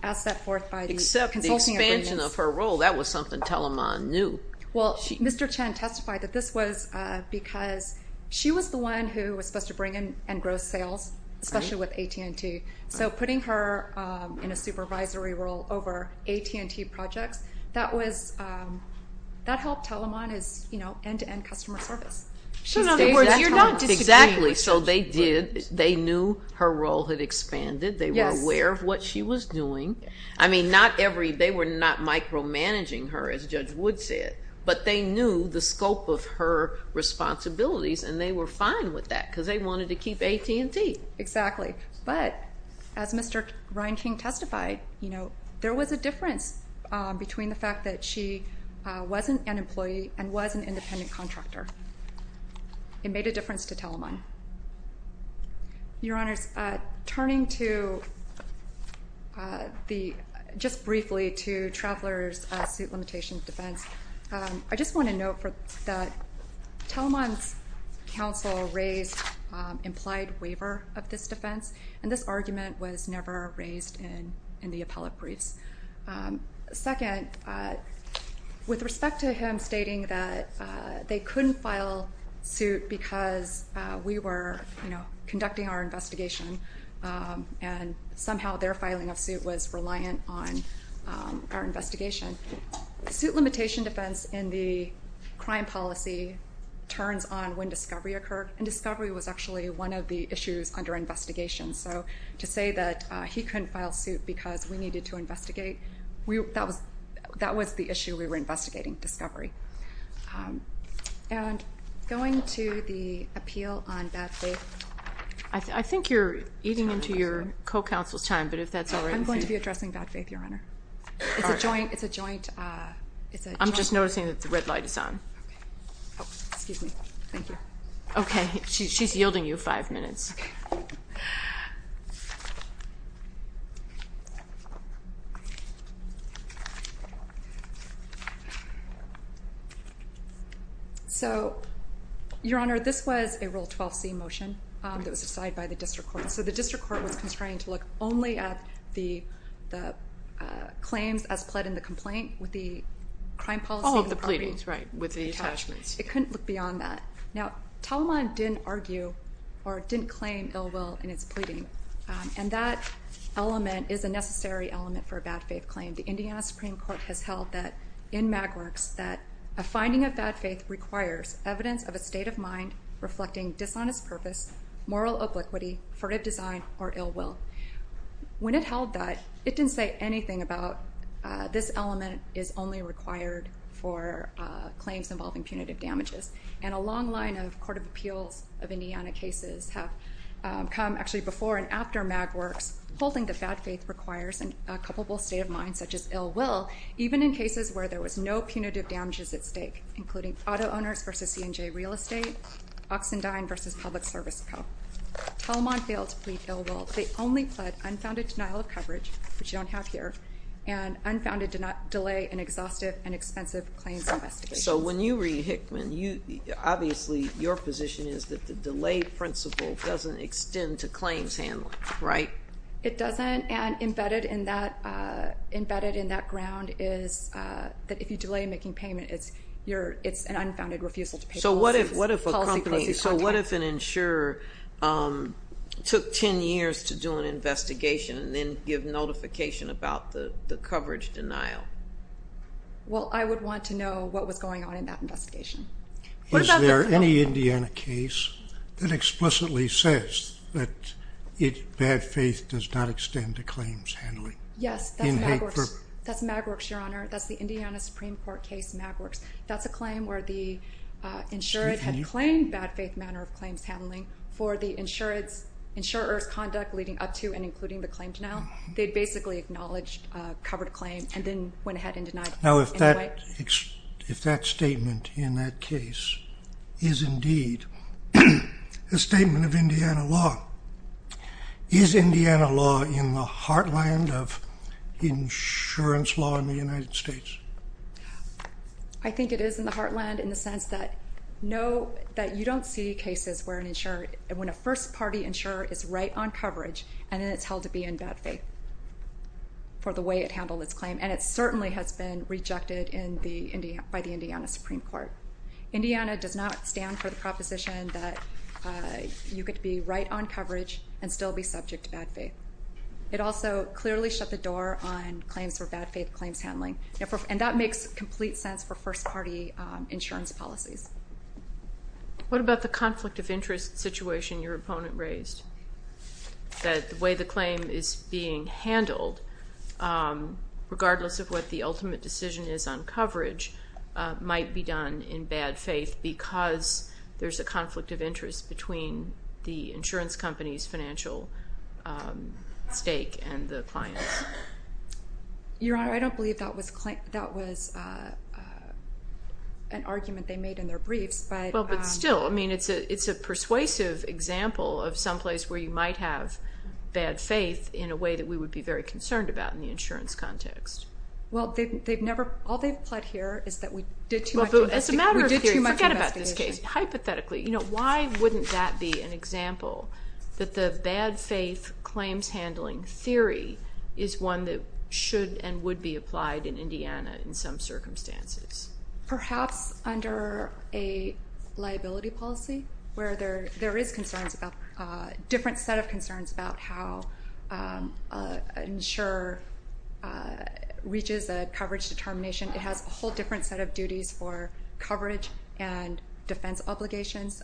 as set forth by the consulting agreements. Except the expansion of her role, that was something Telamon knew. Well, Mr. Chen testified that this was because she was the one who was supposed to bring in and grow sales, especially with AT&T. So putting her in a supervisory role over AT&T projects, that helped Telamon's end-to-end customer service. So in other words, you're not disagreeing with Judge Wood. Exactly. So they knew her role had expanded. They were aware of what she was doing. They were not micromanaging her, as Judge Wood said, but they knew the scope of her responsibilities, and they were fine with that because they wanted to keep AT&T. Exactly. But as Mr. Ryan King testified, there was a difference between the fact that she wasn't an employee and was an independent contractor. It made a difference to Telamon. Your Honors, turning just briefly to Traveler's suit limitation defense, I just want to note that Telamon's counsel raised implied waiver of this defense, and this argument was never raised in the appellate briefs. Second, with respect to him stating that they couldn't file suit because we were conducting our investigation and somehow their filing of suit was reliant on our investigation, suit limitation defense in the crime policy turns on when discovery occurred, and discovery was actually one of the issues under investigation. So to say that he couldn't file suit because we needed to investigate, that was the issue we were investigating, discovery. And going to the appeal on bad faith. I think you're eating into your co-counsel's time, but if that's all right with you. I'm going to be addressing bad faith, Your Honor. It's a joint. I'm just noticing that the red light is on. Excuse me. Thank you. Okay. She's yielding you five minutes. Okay. So, Your Honor, this was a Rule 12c motion that was decided by the district court. So the district court was constrained to look only at the claims as pled in the complaint with the crime policy. All of the pleadings, right, with the attachments. It couldn't look beyond that. Now, Tauliman didn't argue or didn't claim ill will in his pleading, and that element is a necessary element for a bad faith claim. The Indiana Supreme Court has held that, in MagWorks, that a finding of bad faith requires evidence of a state of mind reflecting dishonest purpose, moral obliquity, furtive design, or ill will. When it held that, it didn't say anything about this element is only required for claims involving punitive damages. And a long line of Court of Appeals of Indiana cases have come actually before and after MagWorks holding that bad faith requires a culpable state of mind such as ill will, even in cases where there was no punitive damages at stake, including auto owners versus C&J Real Estate, Oxendine versus Public Service Co. Tauliman failed to plead ill will. They only pled unfounded denial of coverage, which you don't have here, and unfounded delay in exhaustive and expensive claims investigations. So when you read Hickman, obviously your position is that the delay principle doesn't extend to claims handling, right? It doesn't, and embedded in that ground is that if you delay making payment, it's an unfounded refusal to pay policies. So what if an insurer took 10 years to do an investigation and then give notification about the coverage denial? Well, I would want to know what was going on in that investigation. Is there any Indiana case that explicitly says that bad faith does not extend to claims handling? Yes, that's MagWorks, Your Honor. That's the Indiana Supreme Court case MagWorks. That's a claim where the insured had claimed bad faith manner of claims handling for the insurer's conduct leading up to and including the claim denial. They basically acknowledged a covered claim and then went ahead and denied it. Now, if that statement in that case is indeed a statement of Indiana law, is Indiana law in the heartland of insurance law in the United States? I think it is in the heartland in the sense that you don't see cases where an insurer, when a first-party insurer is right on coverage and then it's held to be in bad faith for the way it handled its claim, and it certainly has been rejected by the Indiana Supreme Court. Indiana does not stand for the proposition that you could be right on coverage and still be subject to bad faith. It also clearly shut the door on claims for bad faith claims handling, and that makes complete sense for first-party insurance policies. What about the conflict of interest situation your opponent raised, that the way the claim is being handled, regardless of what the ultimate decision is on coverage, might be done in bad faith because there's a conflict of interest between the insurance company's financial stake and the client? Your Honor, I don't believe that was an argument they made in their briefs. But still, it's a persuasive example of someplace where you might have bad faith in a way that we would be very concerned about in the insurance context. Well, all they've pled here is that we did too much investigation. As a matter of theory, forget about this case. Hypothetically. You know, why wouldn't that be an example, that the bad faith claims handling theory is one that should and would be applied in Indiana in some circumstances? Perhaps under a liability policy where there is concerns about a different set of concerns about how an insurer reaches a coverage determination. It has a whole different set of duties for coverage and defense obligations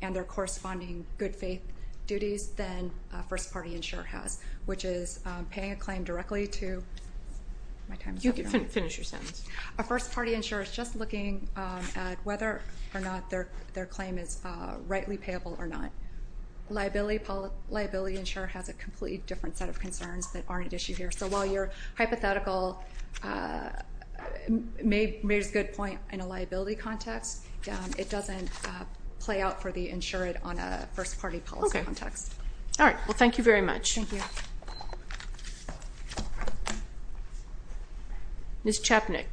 and their corresponding good faith duties than a first-party insurer has, which is paying a claim directly to my time is up, Your Honor. You can finish your sentence. A first-party insurer is just looking at whether or not their claim is rightly payable or not. Liability insurer has a completely different set of concerns that aren't at issue here. So while your hypothetical may raise a good point in a liability context, it doesn't play out for the insured on a first-party policy context. Okay. All right. Well, thank you very much. Thank you. Ms. Chapnick.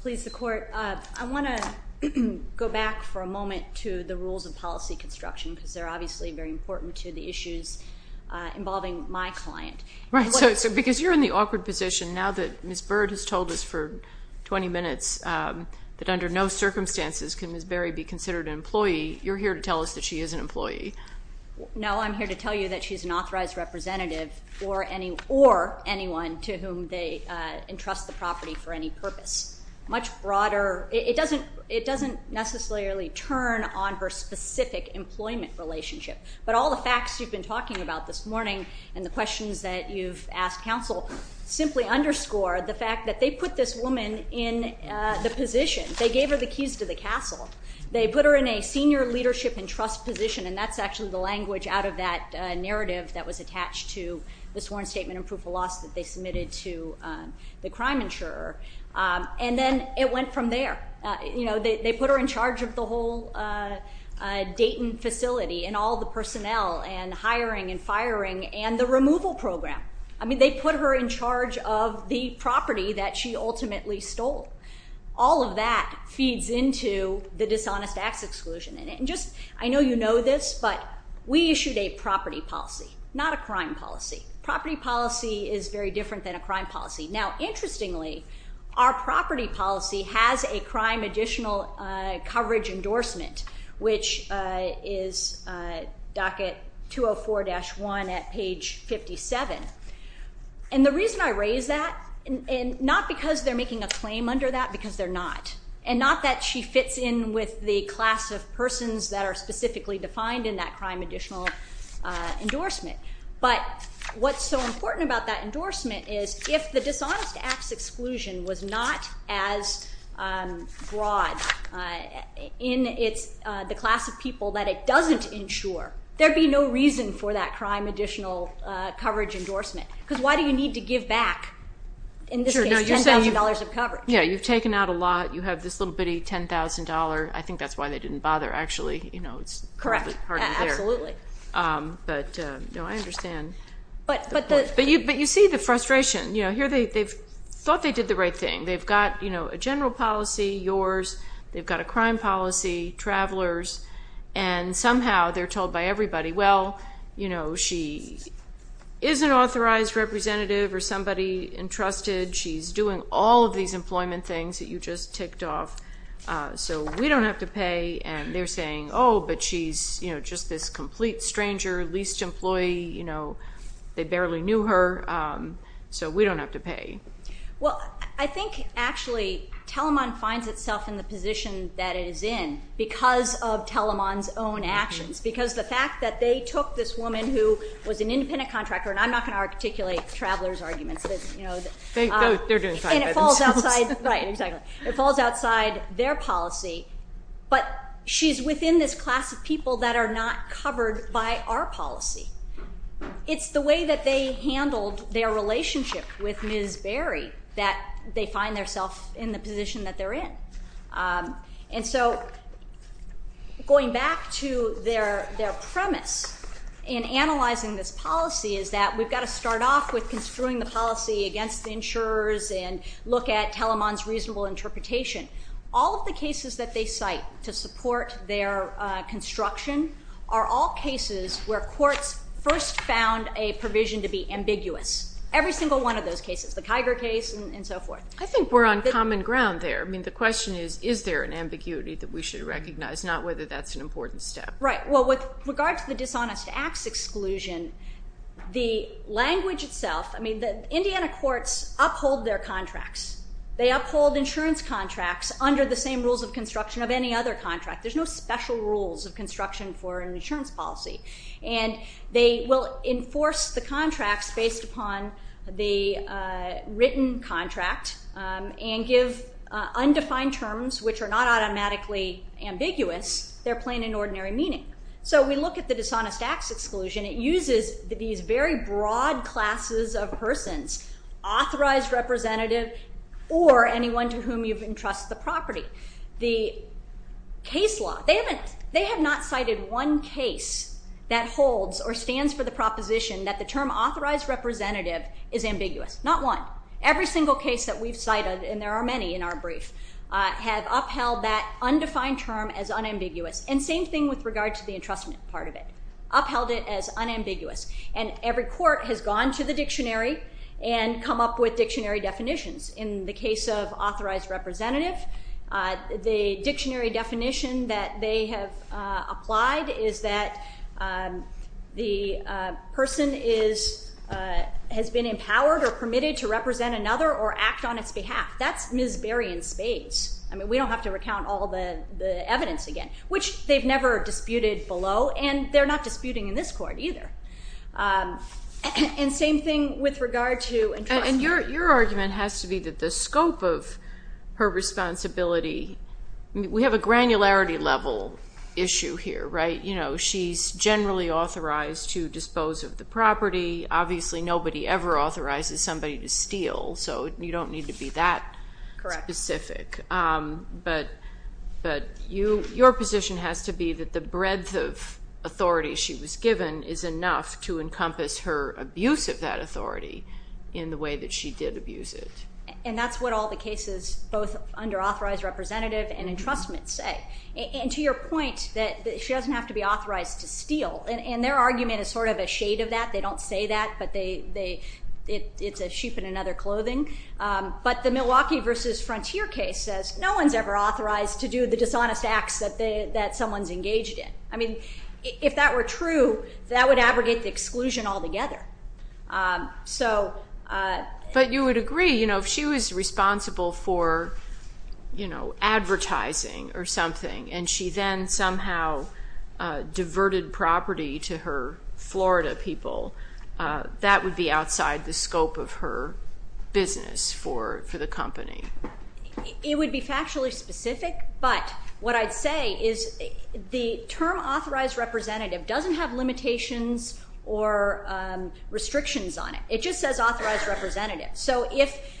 Please, the Court. I want to go back for a moment to the rules of policy construction because they're obviously very important to the issues involving my client. Right, so because you're in the awkward position now that Ms. Bird has told us for 20 minutes that under no circumstances can Ms. Berry be considered an employee, you're here to tell us that she is an employee. No, I'm here to tell you that she's an authorized representative or anyone to whom they entrust the property for any purpose. Much broader, it doesn't necessarily turn on her specific employment relationship, but all the facts you've been talking about this morning and the questions that you've asked counsel simply underscore the fact that they put this woman in the position. They gave her the keys to the castle. They put her in a senior leadership and trust position, and that's actually the language out of that narrative that was attached to the sworn statement and proof of loss that they submitted to the crime insurer. And then it went from there. You know, they put her in charge of the whole Dayton facility and all the personnel and hiring and firing and the removal program. I mean, they put her in charge of the property that she ultimately stole. All of that feeds into the dishonest acts exclusion. And just I know you know this, but we issued a property policy, not a crime policy. Property policy is very different than a crime policy. Now, interestingly, our property policy has a crime additional coverage endorsement, which is docket 204-1 at page 57. And the reason I raise that, not because they're making a claim under that, because they're not, and not that she fits in with the class of persons that are specifically defined in that crime additional endorsement. But what's so important about that endorsement is if the dishonest acts exclusion was not as broad in the class of people that it doesn't insure, there would be no reason for that crime additional coverage endorsement. Because why do you need to give back, in this case, $10,000 of coverage? Yeah, you've taken out a lot. You have this little bitty $10,000. I think that's why they didn't bother, actually. Correct. It's hardly there. Absolutely. But I understand. But you see the frustration. Here they thought they did the right thing. They've got a general policy, yours. They've got a crime policy, travelers. And somehow they're told by everybody, well, she is an authorized representative or somebody entrusted. She's doing all of these employment things that you just ticked off, so we don't have to pay. And they're saying, oh, but she's just this complete stranger, leased employee. They barely knew her, so we don't have to pay. Well, I think, actually, Telemon finds itself in the position that it is in because of Telemon's own actions. Because the fact that they took this woman who was an independent contractor, and I'm not going to articulate travelers' arguments. They're doing fine by themselves. Right, exactly. It falls outside their policy. But she's within this class of people that are not covered by our policy. It's the way that they handled their relationship with Ms. Berry that they find themselves in the position that they're in. And so going back to their premise in analyzing this policy is that we've got to start off with construing the policy against the insurers and look at Telemon's reasonable interpretation. All of the cases that they cite to support their construction are all cases where courts first found a provision to be ambiguous. Every single one of those cases, the Kiger case and so forth. I think we're on common ground there. I mean, the question is, is there an ambiguity that we should recognize, not whether that's an important step. Right, well, with regard to the dishonest acts exclusion, the language itself, I mean, the Indiana courts uphold their contracts. They uphold insurance contracts under the same rules of construction of any other contract. There's no special rules of construction for an insurance policy. And they will enforce the contracts based upon the written contract and give undefined terms, which are not automatically ambiguous. They're plain and ordinary meaning. So we look at the dishonest acts exclusion. It uses these very broad classes of persons, authorized representative or anyone to whom you've entrusted the property. The case law, they have not cited one case that holds or stands for the proposition that the term authorized representative is ambiguous. Not one. Every single case that we've cited, and there are many in our brief, have upheld that undefined term as unambiguous. And same thing with regard to the entrustment part of it. Upheld it as unambiguous. And every court has gone to the dictionary and come up with dictionary definitions. In the case of authorized representative, the dictionary definition that they have applied is that the person has been empowered or permitted to represent another or act on its behalf. That's Ms. Berry in spades. I mean, we don't have to recount all the evidence again, which they've never disputed below. And they're not disputing in this court either. And same thing with regard to entrustment. And your argument has to be that the scope of her responsibility, we have a granularity level issue here, right? You know, she's generally authorized to dispose of the property. Obviously, nobody ever authorizes somebody to steal, so you don't need to be that specific. Correct. But your position has to be that the breadth of authority she was given is enough to encompass her abuse of that authority in the way that she did abuse it. And that's what all the cases, both under authorized representative and entrustment, say. And to your point that she doesn't have to be authorized to steal, and their argument is sort of a shade of that. They don't say that, but it's a sheep in another clothing. But the Milwaukee v. Frontier case says no one's ever authorized to do the dishonest acts that someone's engaged in. I mean, if that were true, that would abrogate the exclusion altogether. But you would agree, you know, if she was responsible for, you know, advertising or something, and she then somehow diverted property to her Florida people, that would be outside the scope of her business for the company. It would be factually specific, but what I'd say is the term authorized representative doesn't have limitations or restrictions on it. It just says authorized representative. So if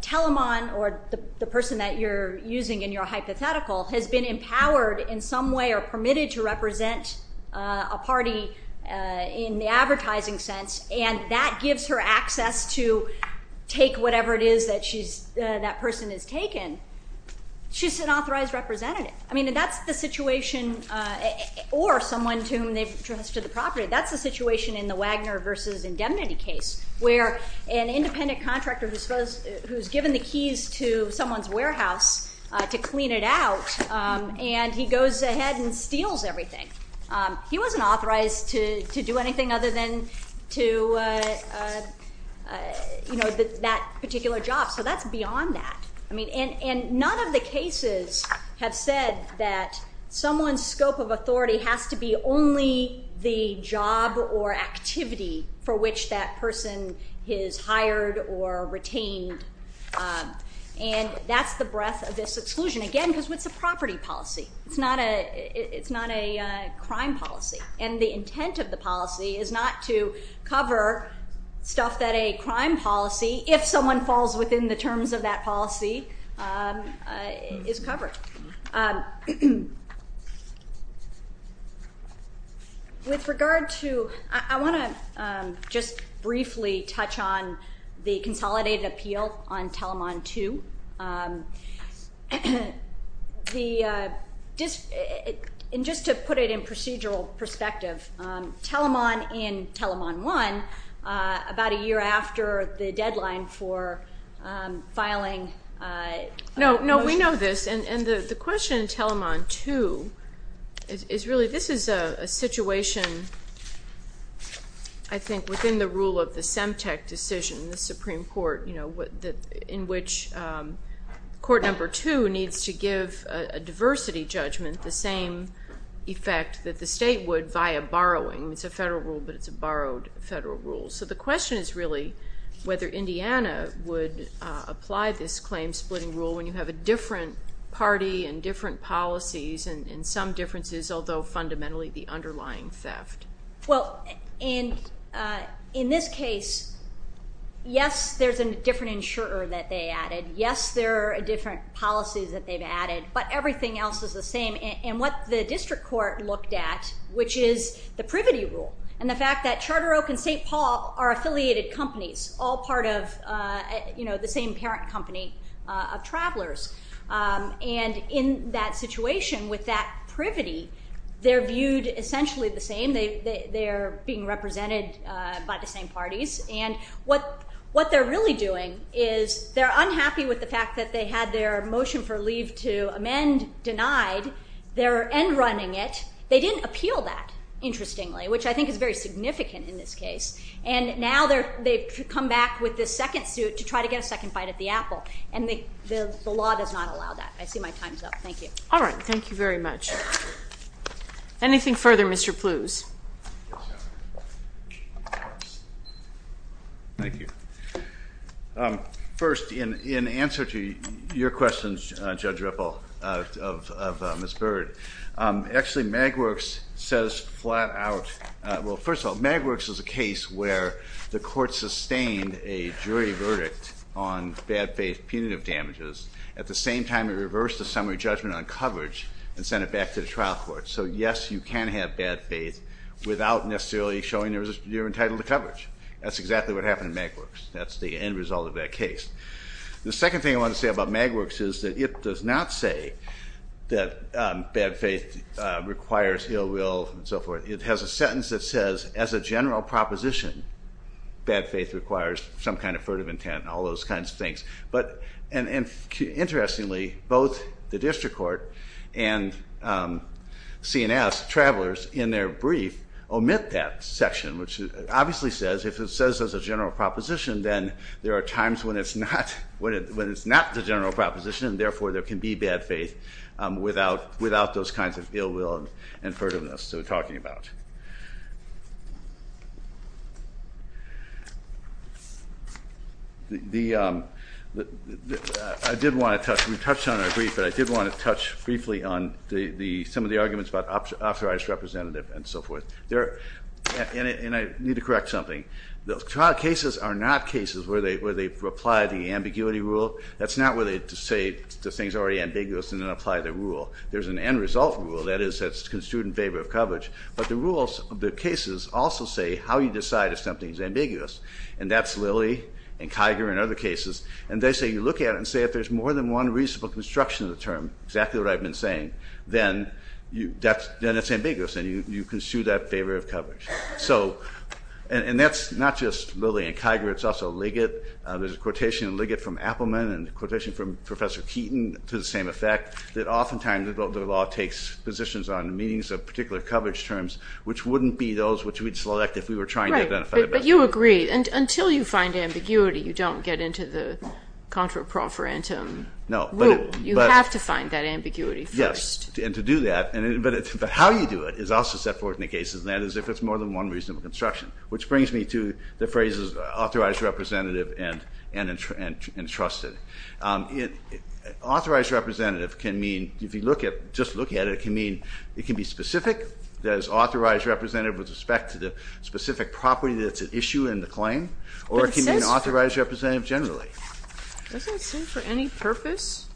Telamon, or the person that you're using in your hypothetical, has been empowered in some way or permitted to represent a party in the advertising sense, and that gives her access to take whatever it is that she's, that person has taken, she's an authorized representative. I mean, that's the situation, or someone to whom they've entrusted the property, that's the situation in the Wagner v. Indemnity case, where an independent contractor who's given the keys to someone's warehouse to clean it out, and he goes ahead and steals everything. He wasn't authorized to do anything other than to, you know, that particular job, so that's beyond that. I mean, and none of the cases have said that someone's scope of authority has to be only the job or activity for which that person is hired or retained, and that's the breadth of this exclusion, again, because it's a property policy. It's not a, it's not a crime policy, and the intent of the policy is not to cover stuff that a crime policy, if someone falls within the terms of that policy, is covered. With regard to, I want to just briefly touch on the consolidated appeal on Telemon II. The, and just to put it in procedural perspective, Telemon in Telemon I, about a year after the deadline for filing a motion. No, no, we know this, and the question in Telemon II is really, this is a situation, I think, within the rule of the Semtec decision, the Supreme Court, you know, in which Court Number 2 needs to give a diversity judgment, the same effect that the state would via borrowing. It's a federal rule, but it's a borrowed federal rule. So the question is really whether Indiana would apply this claim-splitting rule when you have a different party and different policies and some differences, although fundamentally the underlying theft. Well, and in this case, yes, there's a different insurer that they added. Yes, there are different policies that they've added, but everything else is the same. And what the district court looked at, which is the privity rule and the fact that Charter Oak and St. Paul are affiliated companies, all part of, you know, the same parent company of travelers. And in that situation with that privity, they're viewed essentially the same. They're being represented by the same parties. And what they're really doing is they're unhappy with the fact that they had their motion for leave to amend denied. They're end-running it. They didn't appeal that, interestingly, which I think is very significant in this case. And now they've come back with this second suit to try to get a second bite at the apple. And the law does not allow that. I see my time's up. Thank you. All right. Thank you very much. Anything further, Mr. Plews? Thank you. First, in answer to your questions, Judge Ripple, of Ms. Bird, actually Magwerks says flat out – the court sustained a jury verdict on bad faith punitive damages. At the same time, it reversed the summary judgment on coverage and sent it back to the trial court. So, yes, you can have bad faith without necessarily showing you're entitled to coverage. That's exactly what happened in Magwerks. That's the end result of that case. The second thing I want to say about Magwerks is that it does not say that bad faith requires ill will and so forth. It has a sentence that says, as a general proposition, bad faith requires some kind of furtive intent, and all those kinds of things. And interestingly, both the district court and CNS travelers in their brief omit that section, which obviously says if it says as a general proposition, then there are times when it's not the general proposition, and therefore there can be bad faith without those kinds of ill will and furtiveness that we're talking about. I did want to touch briefly on some of the arguments about authorized representative and so forth. And I need to correct something. The trial cases are not cases where they apply the ambiguity rule. That's not where they say the thing's already ambiguous and then apply the rule. There's an end result rule that is construed in favor of coverage. But the rules of the cases also say how you decide if something's ambiguous. And that's Lilly and Kiger and other cases. And they say you look at it and say if there's more than one reasonable construction of the term, exactly what I've been saying, then it's ambiguous and you construe that in favor of coverage. And that's not just Lilly and Kiger. It's also Liggett. There's a quotation in Liggett from Appelman and a quotation from Professor Keaton to the same effect that oftentimes the law takes positions on meanings of particular coverage terms, which wouldn't be those which we'd select if we were trying to identify them. Right, but you agree. Until you find ambiguity, you don't get into the contraproferentum. No. You have to find that ambiguity first. Yes, and to do that. But how you do it is also set forth in the cases. And that is if it's more than one reasonable construction, which brings me to the phrases authorized representative and entrusted. Authorized representative can mean, if you just look at it, it can be specific, that it's authorized representative with respect to the specific property that's at issue in the claim, or it can be an authorized representative generally. Doesn't it say for any purpose?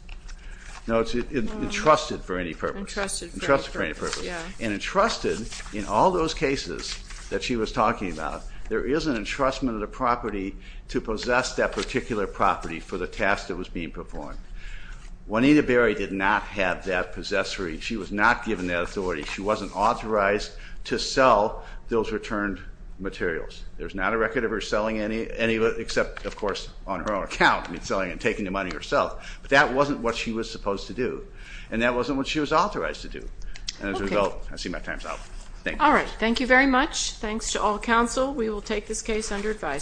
No, it's entrusted for any purpose. Entrusted for any purpose, yeah. And entrusted in all those cases that she was talking about, there is an entrustment of the property to possess that particular property for the task that was being performed. Juanita Berry did not have that possessory. She was not given that authority. She wasn't authorized to sell those returned materials. There's not a record of her selling any, except, of course, on her own account, I mean, selling and taking the money herself. But that wasn't what she was supposed to do. And that wasn't what she was authorized to do. And as a result, I see my time's up. Thank you. All right. Thank you very much. Thanks to all counsel. We will take this case under advisement.